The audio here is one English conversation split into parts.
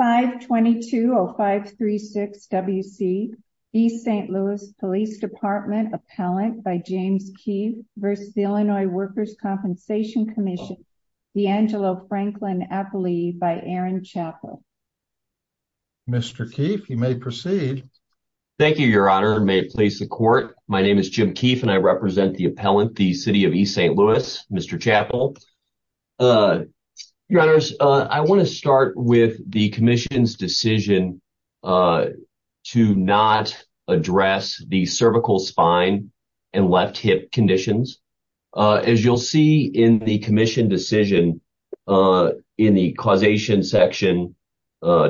522-0536 WC East St. Louis Police Department Appellant by James Keefe v. The Illinois Workers' Compensation Comm'n The Angelo Franklin Appellee by Aaron Chappell. Mr. Keefe, you may proceed. Thank you, Your Honor, and may it please the Court. My name is Jim Keefe and I represent the appellant, the City of East St. Louis, Mr. Chappell. Your Honor, I want to start with the Commission's decision to not address the cervical, spine, and left hip conditions. As you'll see in the Commission decision in the causation section,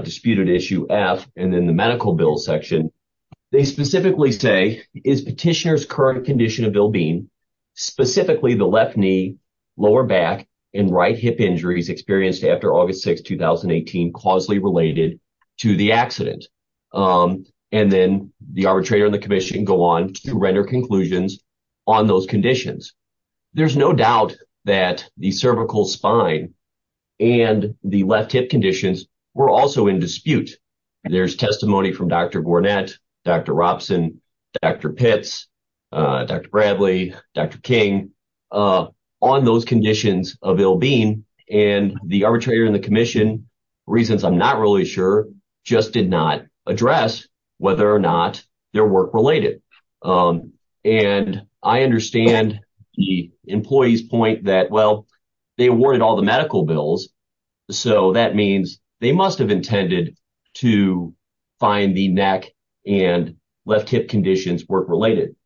disputed issue F, and then the medical bill section, they specifically say, is petitioner's current condition of ill-being, specifically the left knee, lower back, and right hip injuries experienced after August 6, 2018, causally related to the accident? And then the arbitrator and the Commission go on to render conclusions on those conditions. There's no doubt that the cervical, spine, and the left hip conditions were also in dispute. There's testimony from Dr. Gornett, Dr. Robson, Dr. Pitts, Dr. Bradley, Dr. King, on those conditions of ill-being, and the arbitrator and the Commission, reasons I'm not really sure, just did not address whether or not they're work-related. And I understand the employee's point that, well, they awarded all the medical bills, so that means they must have intended to find the neck and left hip conditions work-related.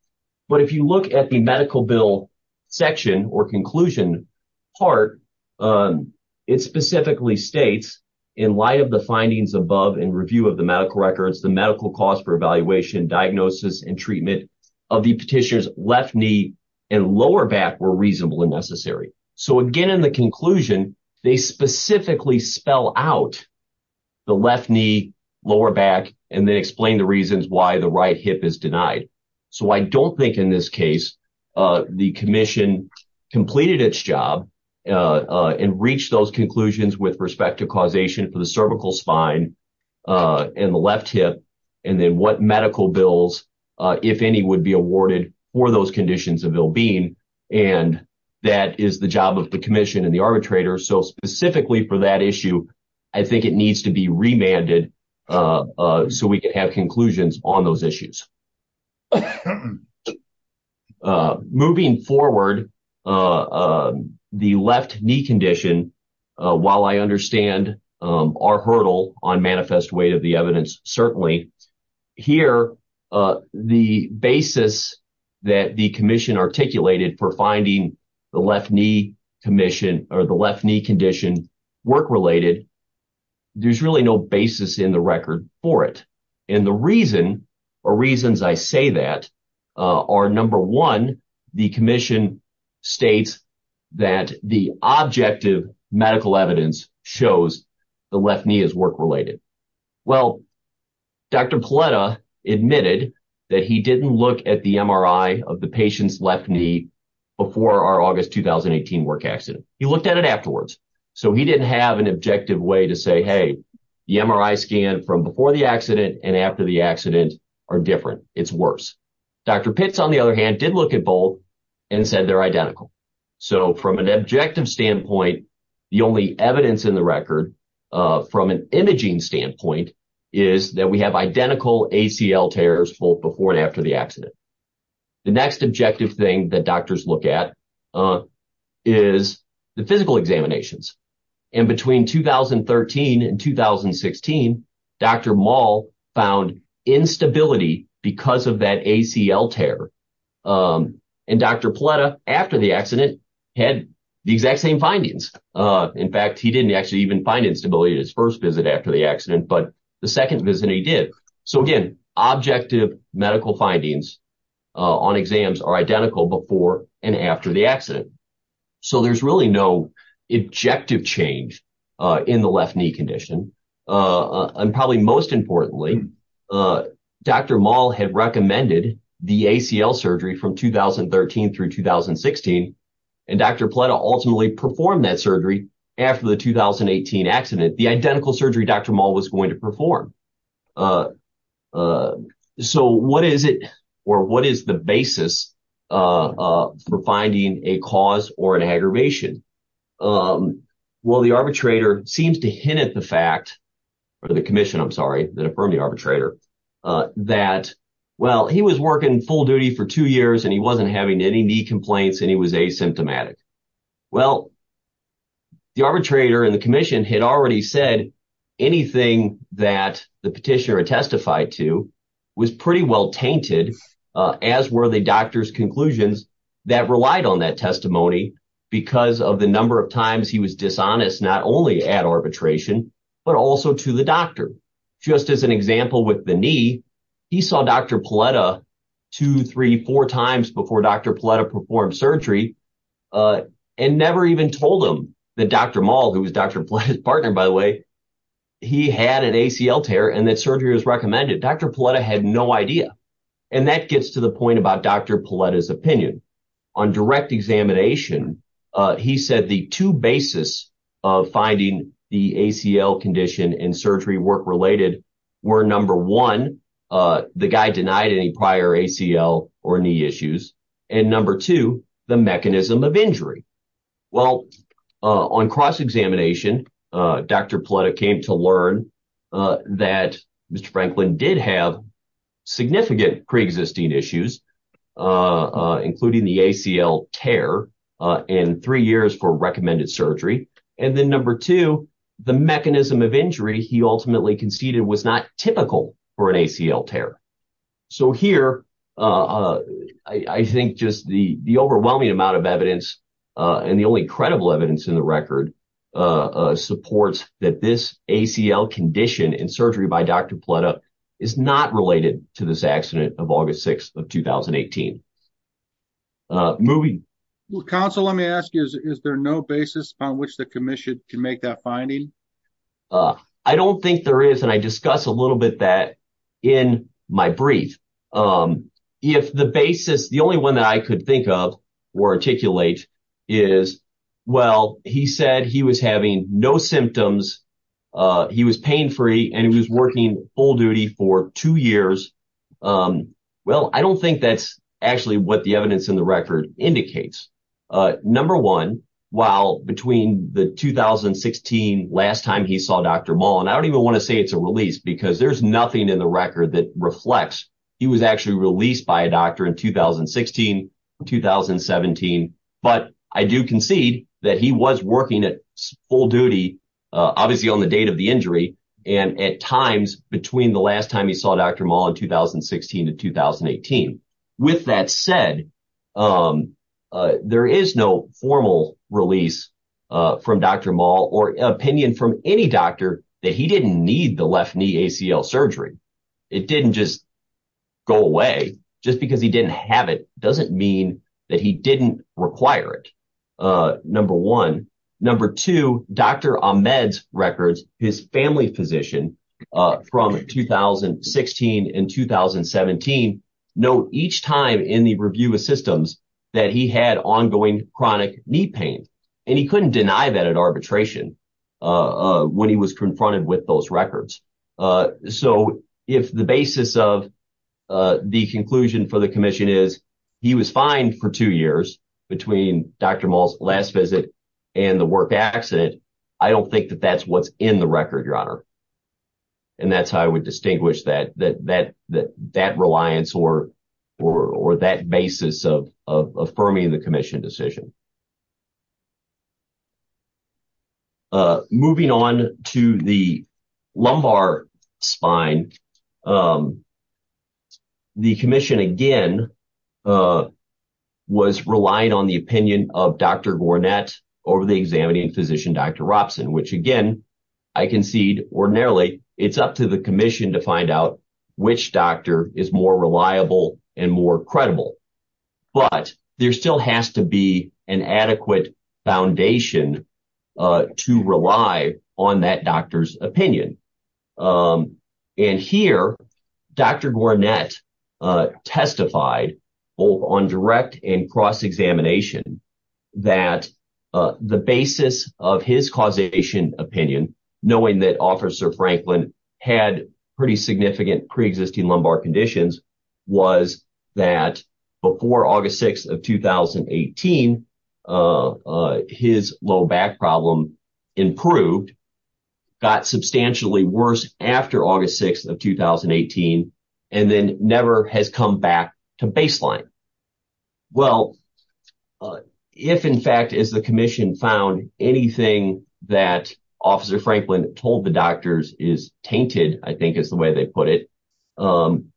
But if you look at the medical bill section or conclusion part, it specifically states, in light of the findings above and review of the medical records, the medical cost for evaluation, diagnosis, and treatment of the petitioner's left knee and lower back were reasonable and necessary. So again, in the conclusion, they specifically spell out the left knee, lower back, and then explain the reasons why the right hip is denied. So I don't think, in this case, the Commission completed its job and reached those conclusions with respect to causation for the cervical, spine, and the left hip, and then what medical bills, if any, would be awarded for those conditions of ill-being. And that is the job of the Commission and the arbitrator. So specifically for that issue, I think it needs to be remanded so we can have conclusions on those issues. Moving forward, the left knee condition, while I understand our hurdle on manifest weight of the evidence, certainly, here, the basis that the Commission articulated for finding the left knee condition work-related, there's really no basis in the record for it. And the reason, or reasons I say that, are, number one, the Commission states that the objective medical evidence shows the left knee is work-related. Well, Dr. Paletta admitted that he didn't look at the MRI of the patient's left knee before our August 2018 work accident. He looked at it afterwards. So he didn't have an objective way to say, hey, the MRI scan from before the accident and after the accident are different. It's worse. Dr. Pitts, on the other hand, the only evidence in the record from an imaging standpoint is that we have identical ACL tears both before and after the accident. The next objective thing that doctors look at is the physical examinations. And between 2013 and 2016, Dr. Mall found instability because of that ACL tear. And Dr. Paletta, after the accident, had the exact same findings. In fact, he didn't actually even find instability in his first visit after the accident, but the second visit he did. So again, objective medical findings on exams are identical before and after the accident. So there's really no objective change in the left knee condition. And probably most importantly, Dr. Mall had recommended the ACL surgery from 2013 through 2016. And Dr. Paletta ultimately performed that surgery after the 2018 accident, the identical surgery Dr. Mall was going to perform. So what is it or what is the basis for finding a cause or an aggravation? Well, arbitrator seems to hint at the fact, or the commission, I'm sorry, that affirmed the arbitrator that, well, he was working full duty for two years and he wasn't having any knee complaints and he was asymptomatic. Well, the arbitrator and the commission had already said anything that the petitioner had testified to was pretty well tainted, as were the doctor's testimony, because of the number of times he was dishonest, not only at arbitration, but also to the doctor. Just as an example with the knee, he saw Dr. Paletta two, three, four times before Dr. Paletta performed surgery and never even told him that Dr. Mall, who was Dr. Paletta's partner, by the way, he had an ACL tear and that surgery was recommended. Dr. Paletta had no idea. And that gets to the point about Dr. Paletta's opinion. On direct examination, he said the two basis of finding the ACL condition and surgery work related were number one, the guy denied any prior ACL or knee issues, and number two, the mechanism of injury. Well, on cross-examination, Dr. Paletta came to learn that Mr. Franklin did have significant pre-existing issues, including the ACL tear and three years for recommended surgery. And then number two, the mechanism of injury he ultimately conceded was not typical for an ACL and the only credible evidence in the record supports that this ACL condition and surgery by Dr. Paletta is not related to this accident of August 6th of 2018. Counsel, let me ask you, is there no basis on which the commission can make that finding? I don't think there is. And I discuss a little bit that in my brief. If the basis, the only one that I could think of or articulate is, well, he said he was having no symptoms. He was pain-free and he was working full duty for two years. Well, I don't think that's actually what the evidence in the record indicates. Number one, while between the 2016 last time he saw Dr. Mall, and I don't even want to say it's a release because there's nothing in the record that reflects, he was actually released by a doctor in 2016, 2017. But I do concede that he was working at full duty, obviously on the date of the injury. And at times between the last time he saw Dr. Mall in 2016 to 2018. With that said, there is no formal release from Dr. Mall or opinion from any doctor that he didn't need the left knee ACL surgery. It didn't just go away just because he didn't have it doesn't mean that he didn't require it. Number one. Number two, Dr. Ahmed's records, his family physician from 2016 and 2017, know each time in the review of systems that he had ongoing chronic knee pain. And he couldn't deny that at arbitration when he was confronted with those records. So if the basis of the conclusion for the commission is he was fined for two years between Dr. Mall's last visit and the work accident, I don't think that that's what's in the record, your honor. And that's how I would distinguish that that that that reliance or, or that basis of affirming the commission decision. Moving on to the lumbar spine. The commission again, was relying on the opinion of Dr. Gornett over the examining physician, Dr. Robson, which again, I concede ordinarily, it's up to the commission to find out which doctor is more reliable and more credible. But there still has to be an adequate foundation to rely on that doctor's opinion. And here, Dr. Gornett testified both on direct and cross examination that the basis of his causation opinion, knowing that officer Franklin had pretty significant preexisting lumbar conditions, was that before August 6th of 2018, his low back problem improved, got substantially worse after August 6th of 2018, and then never has come back to baseline. Well, if in fact, is the commission found anything that is the way they put it, then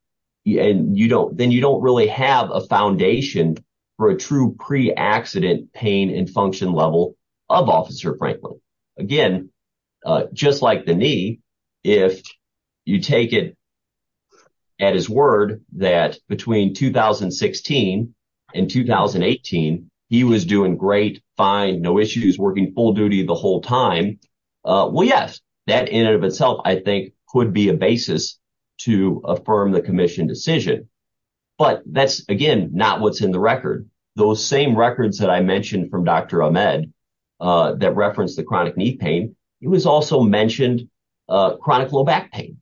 you don't really have a foundation for a true pre accident pain and function level of officer Franklin. Again, just like the knee, if you take it at his word, that between 2016 and 2018, he was doing great, fine, no issues working full duty the whole time. Well, yes, that in and of itself, I think could be a basis to affirm the commission decision. But that's again, not what's in the record. Those same records that I mentioned from Dr. Ahmed that referenced the chronic knee pain, he was also mentioned chronic low back pain.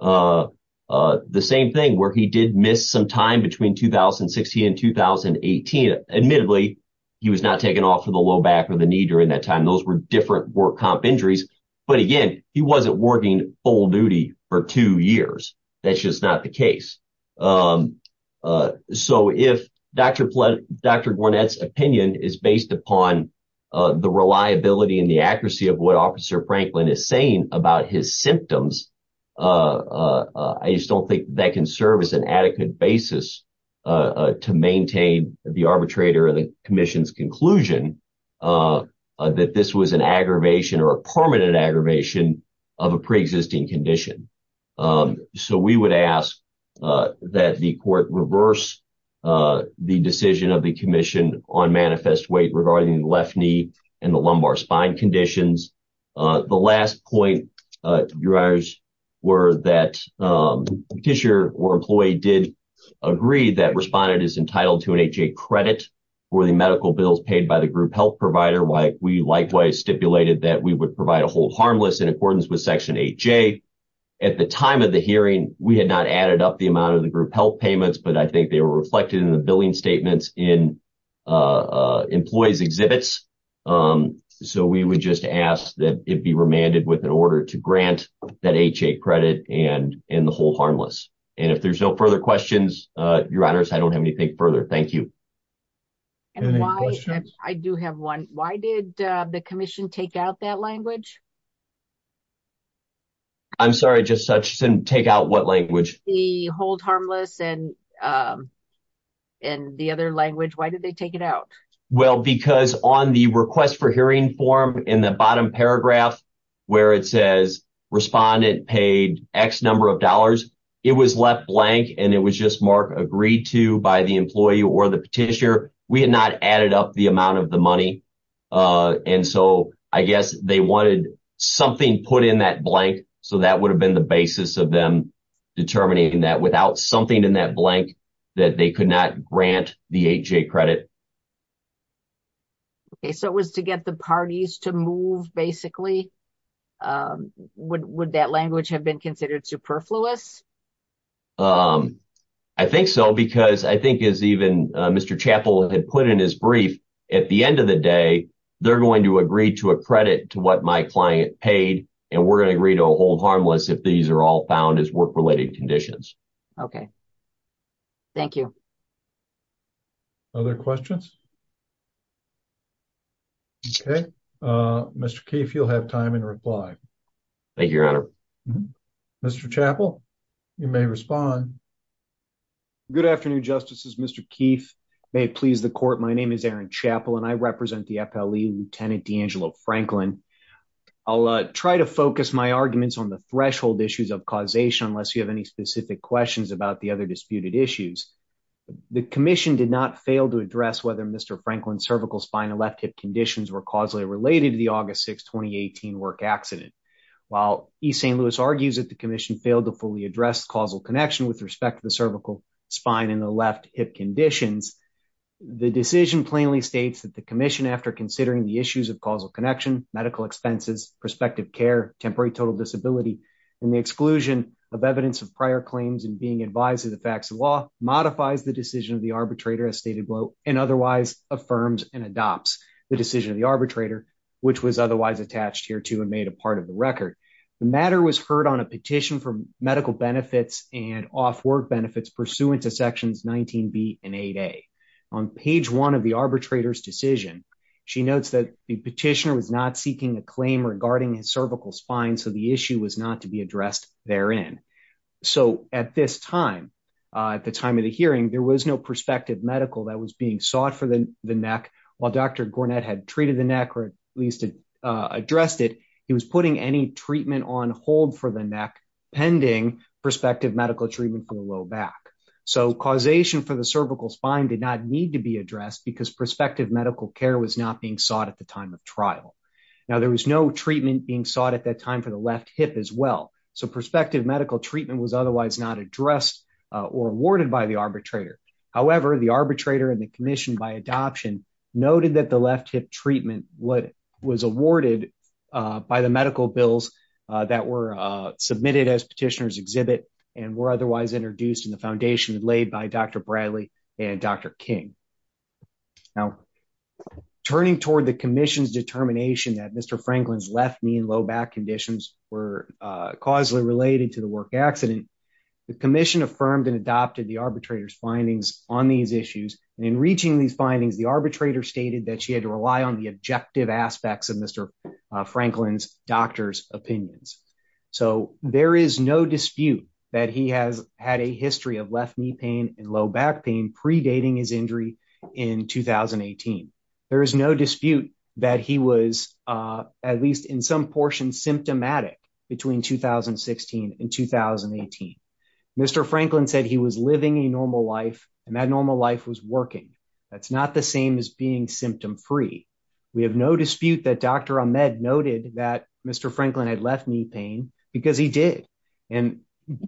The same thing where he did miss some time between 2016 and 2018. Admittedly, he was not taking off for the low back or the knee during that time. Those were different work comp injuries. But again, he wasn't working full duty for two years. That's just not the case. So if Dr. Gwinnett's opinion is based upon the reliability and the accuracy of what officer Franklin is saying about his symptoms, I just don't think that can serve as an adequate basis to maintain the arbitrator and the commission's conclusion that this was an aggravation or a permanent aggravation of a pre-existing condition. So we would ask that the court reverse the decision of the commission on manifest weight regarding the left knee and the lumbar spine conditions. The last point, your honors, were that tissue or employee did agree that respondent is entitled to an HA credit for the medical bills paid by the group health provider. We likewise stipulated that we would provide a hold harmless in accordance with section 8J. At the time of the hearing, we had not added up the amount of the group health payments, but I think they were just asked that it be remanded with an order to grant that HA credit and the hold harmless. And if there's no further questions, your honors, I don't have anything further. Thank you. I do have one. Why did the commission take out that language? I'm sorry, just take out what language? The hold harmless and the other language. Why did they take it out? Well, because on the request for hearing form in the bottom paragraph where it says respondent paid X number of dollars, it was left blank and it was just marked agreed to by the employee or the petitioner. We had not added up the amount of the money. And so I guess they wanted something put in that blank. So that would have been the basis of them determining that without something in that blank that they could not grant the HA credit. Okay, so it was to get the parties to move, basically. Would that language have been considered superfluous? I think so, because I think as even Mr. Chappell had put in his brief, at the end of the day, they're going to agree to a credit to what my client paid and we're going to agree to a hold harmless if these are all found as work-related conditions. Okay, thank you. Other questions? Okay, Mr. Keefe, you'll have time in reply. Thank you, Your Honor. Mr. Chappell, you may respond. Good afternoon, Justices. Mr. Keefe, may it please the court, my name is Aaron Chappell and I represent the FLE Lieutenant D'Angelo Franklin. I'll try to focus my arguments on the threshold issues of causation unless you have any specific questions about the other disputed issues. The Commission did not fail to address whether Mr. Franklin's cervical spine and left hip conditions were causally related to the August 6, 2018 work accident. While E. St. Louis argues that the Commission failed to fully address causal connection with respect to the cervical spine and the left hip conditions, the decision plainly states that the Commission, after considering the issues of causal connection, medical expenses, prospective care, temporary total disability, and the exclusion of evidence of prior claims and being advised of the facts of law, modifies the decision of the arbitrator, as stated below, and otherwise affirms and adopts the decision of the arbitrator, which was otherwise attached here to and made a part of the record. The matter was heard on a petition for medical benefits and off-work benefits pursuant to sections 19b and 8a. On page one of the arbitrator's decision, she notes that the petitioner was not seeking a claim regarding his cervical spine, so the issue was not to be addressed therein. So, at this time, at the time of the hearing, there was no prospective medical that was being sought for the neck. While Dr. Gornett had treated the neck or at least addressed it, he was putting any treatment on hold for the neck pending prospective medical treatment for the low back. So, causation for the cervical spine did not need to be addressed because prospective medical care was not being sought at the time of trial. Now, there was no treatment being sought at that time for the left hip as well, so prospective medical treatment was otherwise not addressed or awarded by the arbitrator. However, the arbitrator and the commission by adoption noted that the left hip treatment was awarded by the medical bills that were submitted as petitioner's exhibit and were otherwise introduced in the foundation laid by Dr. Bradley and Dr. King. Now, turning toward the commission's determination that Mr. Franklin's left knee and low back conditions were causally related to the work accident, the commission affirmed and adopted the arbitrator's findings on these issues, and in reaching these findings, the arbitrator stated that she had to rely on the objective aspects of Mr. Franklin's doctor's opinions. So, there is no dispute that he has had a history of left knee pain and low back pain predating his injury in 2018. There is no dispute that he was at least in some portion symptomatic between 2016 and 2018. Mr. Franklin said he was living a normal life and that normal life was working. That's not the same as being symptom-free. We have no dispute that Dr. Ahmed noted that Mr. Franklin was not actively treating for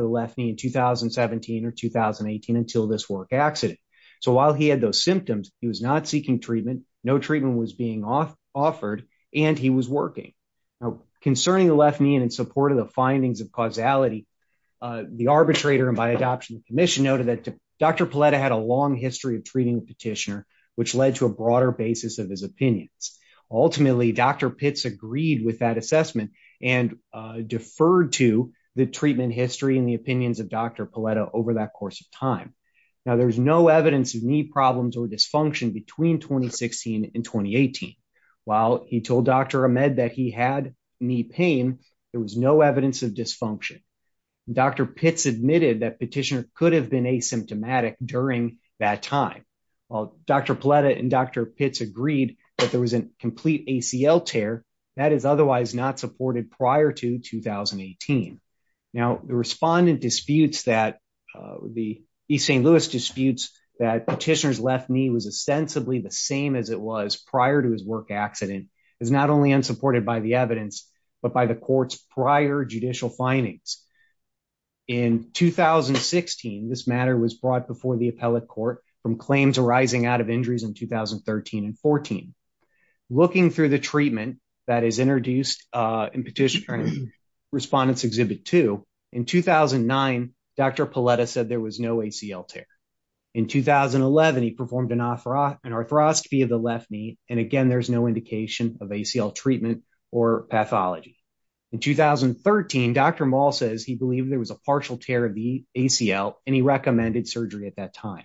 the left knee in 2017 or 2018 until this work accident. So, while he had those symptoms, he was not seeking treatment, no treatment was being offered, and he was working. Concerning the left knee and in support of the findings of causality, the arbitrator and by adoption the commission noted that Dr. Paletta had a long history of left knee pain and a broader basis of his opinions. Ultimately, Dr. Pitts agreed with that assessment and deferred to the treatment history and the opinions of Dr. Paletta over that course of time. Now, there's no evidence of knee problems or dysfunction between 2016 and 2018. While he told Dr. Ahmed that he had knee pain, there was no evidence of dysfunction. Dr. Pitts admitted that during that time. While Dr. Paletta and Dr. Pitts agreed that there was a complete ACL tear, that is otherwise not supported prior to 2018. Now, the respondent disputes that the East St. Louis disputes that Petitioner's left knee was ostensibly the same as it was prior to his work accident is not only unsupported by the evidence but by the court's prior judicial findings. In 2016, this matter was brought before the appellate court from claims arising out of injuries in 2013 and 14. Looking through the treatment that is introduced in Petitioner's Respondent's Exhibit 2, in 2009, Dr. Paletta said there was no ACL tear. In 2011, he performed an arthroscopy of the left knee and again, there's no indication of ACL treatment or pathology. In 2013, Dr. Mall says he believed there was a partial tear of the ACL and he recommended surgery at that time.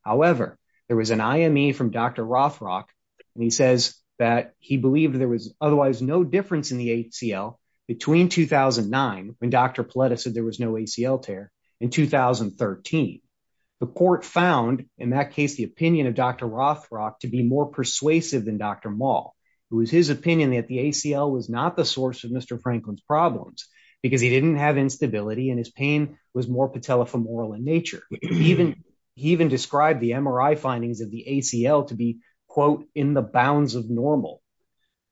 However, there was an IME from Dr. Rothrock and he says that he believed there was otherwise no difference in the ACL between 2009, when Dr. Paletta said there was no ACL tear, and 2013. The court found, in that case, the opinion of Dr. Rothrock to be more persuasive than Dr. Mall. It was his opinion that the ACL was not the source of Mr. Franklin's problems because he didn't have instability and his pain was more patellofemoral in nature. He even described the MRI findings of the ACL to be, quote, in the bounds of normal.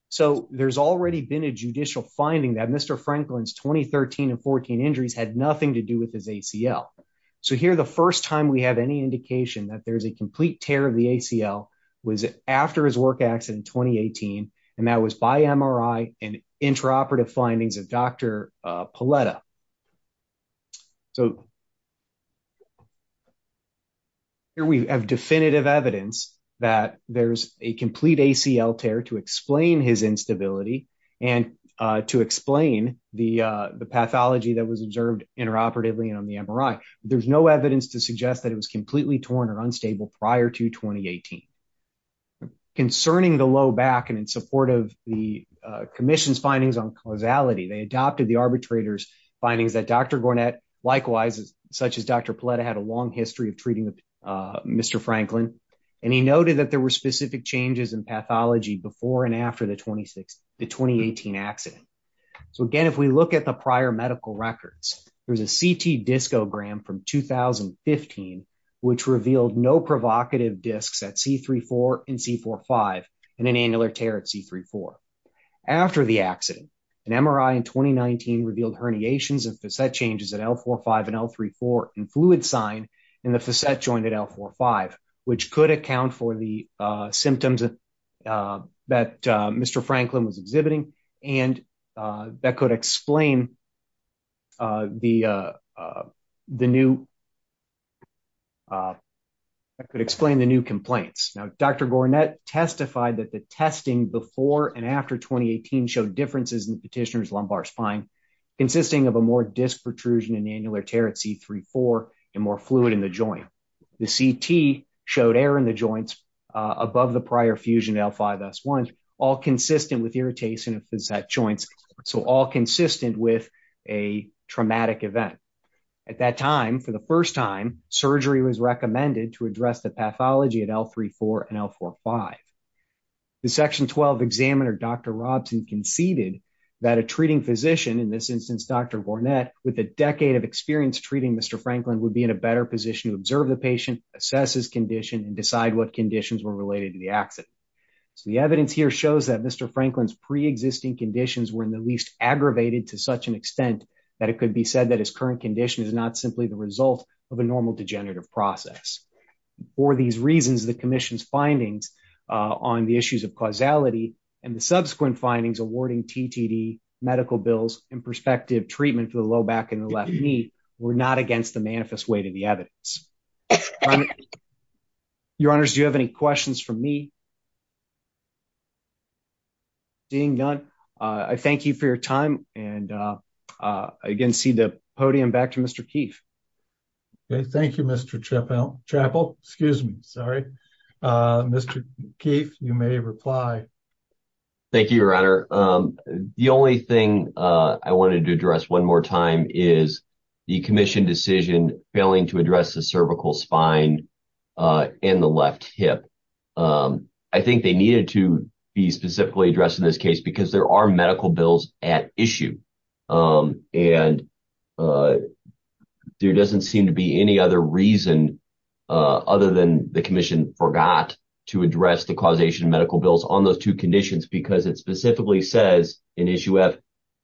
So, there's already been a judicial finding that Mr. Franklin's 2013 and 14 injuries had nothing to do with his ACL. So, here, the first time we have any indication that there's a 2018, and that was by MRI and intraoperative findings of Dr. Paletta. So, here we have definitive evidence that there's a complete ACL tear to explain his instability and to explain the pathology that was observed interoperatively on the MRI. There's no evidence to suggest that it was completely torn or unstable prior to 2018. Concerning the low back and in support of the commission's findings on causality, they adopted the arbitrator's findings that Dr. Gornett, likewise, such as Dr. Paletta, had a long history of treating Mr. Franklin, and he noted that there were specific changes in pathology before and after the 2018 accident. So, again, if we look at the prior medical records, there's a CT discogram from 2015, which revealed no provocative discs at C3-4 and C4-5 and an annular tear at C3-4. After the accident, an MRI in 2019 revealed herniations and facet changes at L4-5 and L3-4 and fluid sign in the facet joint at L4-5, which could account for the symptoms that Mr. Franklin was exhibiting and that could explain the new complaints. Now, Dr. Gornett testified that the testing before and after 2018 showed differences in the petitioner's lumbar spine consisting of a more disc protrusion and annular tear at C3-4 and more fluid in the joint. The CT showed air in the joints above the prior fusion at L5-S1, all consistent with irritation of facet joints, so all consistent with a traumatic event. At that time, for the first time, surgery was recommended to address the pathology at L3-4 and L4-5. The Section 12 examiner, Dr. Robson, conceded that a treating physician, in this instance, Dr. Gornett, with a decade of experience treating Mr. Franklin, would be in a better position to observe the patient, assess his condition, and decide what conditions were related to the accident. The evidence here shows that Mr. Franklin's pre-existing conditions were in the least aggravated to such an extent that it could be said that his current condition is not simply the result of a normal degenerative process. For these reasons, the Commission's findings on the issues of causality and the subsequent findings awarding TTD, medical bills, and prospective treatment for the left knee were not against the manifest weight of the evidence. Your Honors, do you have any questions for me? Seeing none, I thank you for your time and I again cede the podium back to Mr. Keefe. Okay, thank you, Mr. Chappell. Mr. Keefe, you may reply. Thank you, Your Honor. The only thing I wanted to address one more time is the Commission decision failing to address the cervical spine and the left hip. I think they needed to be specifically addressed in this case because there are medical bills at issue and there doesn't seem to be any other reason other than the Commission forgot to address the causation of medical bills on those two conditions because it specifically says in issue F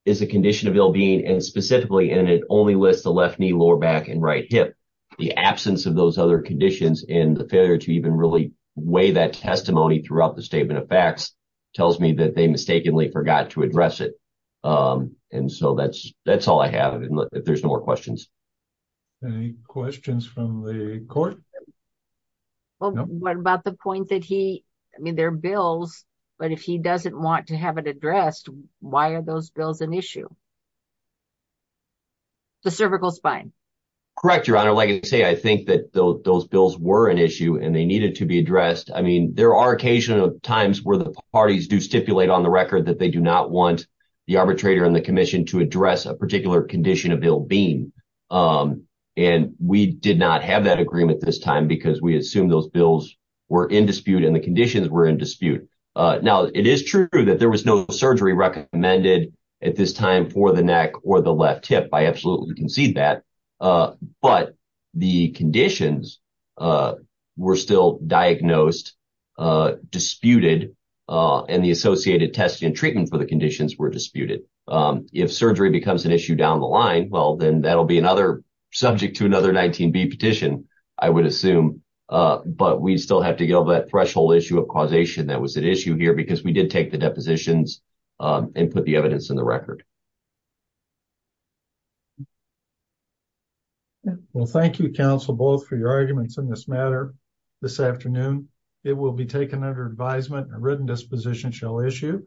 is a condition of ill-being and specifically and it only lists the left knee, lower back, and right hip. The absence of those other conditions and the failure to even really weigh that testimony throughout the statement of facts tells me that they mistakenly forgot to address it. And so that's all I have if there's no more questions. Any questions from the Court? What about the point that he, I mean there are but if he doesn't want to have it addressed, why are those bills an issue? The cervical spine. Correct, Your Honor. Like I say, I think that those bills were an issue and they needed to be addressed. I mean there are occasional times where the parties do stipulate on the record that they do not want the arbitrator and the Commission to address a particular condition of ill-being and we did not have that agreement this time because we assumed those bills were in dispute and the conditions were in dispute. Now it is true that there was no surgery recommended at this time for the neck or the left hip. I absolutely concede that. But the conditions were still diagnosed, disputed, and the associated testing and treatment for the conditions were disputed. If surgery becomes an issue down the line, well then that'll be another subject to another 19B petition, I would assume. But we still have to get over that threshold issue of causation that was at issue here because we did take the depositions and put the evidence in the record. Well thank you, counsel, both for your arguments on this matter this afternoon. It will be taken under advisement and a written disposition shall issue.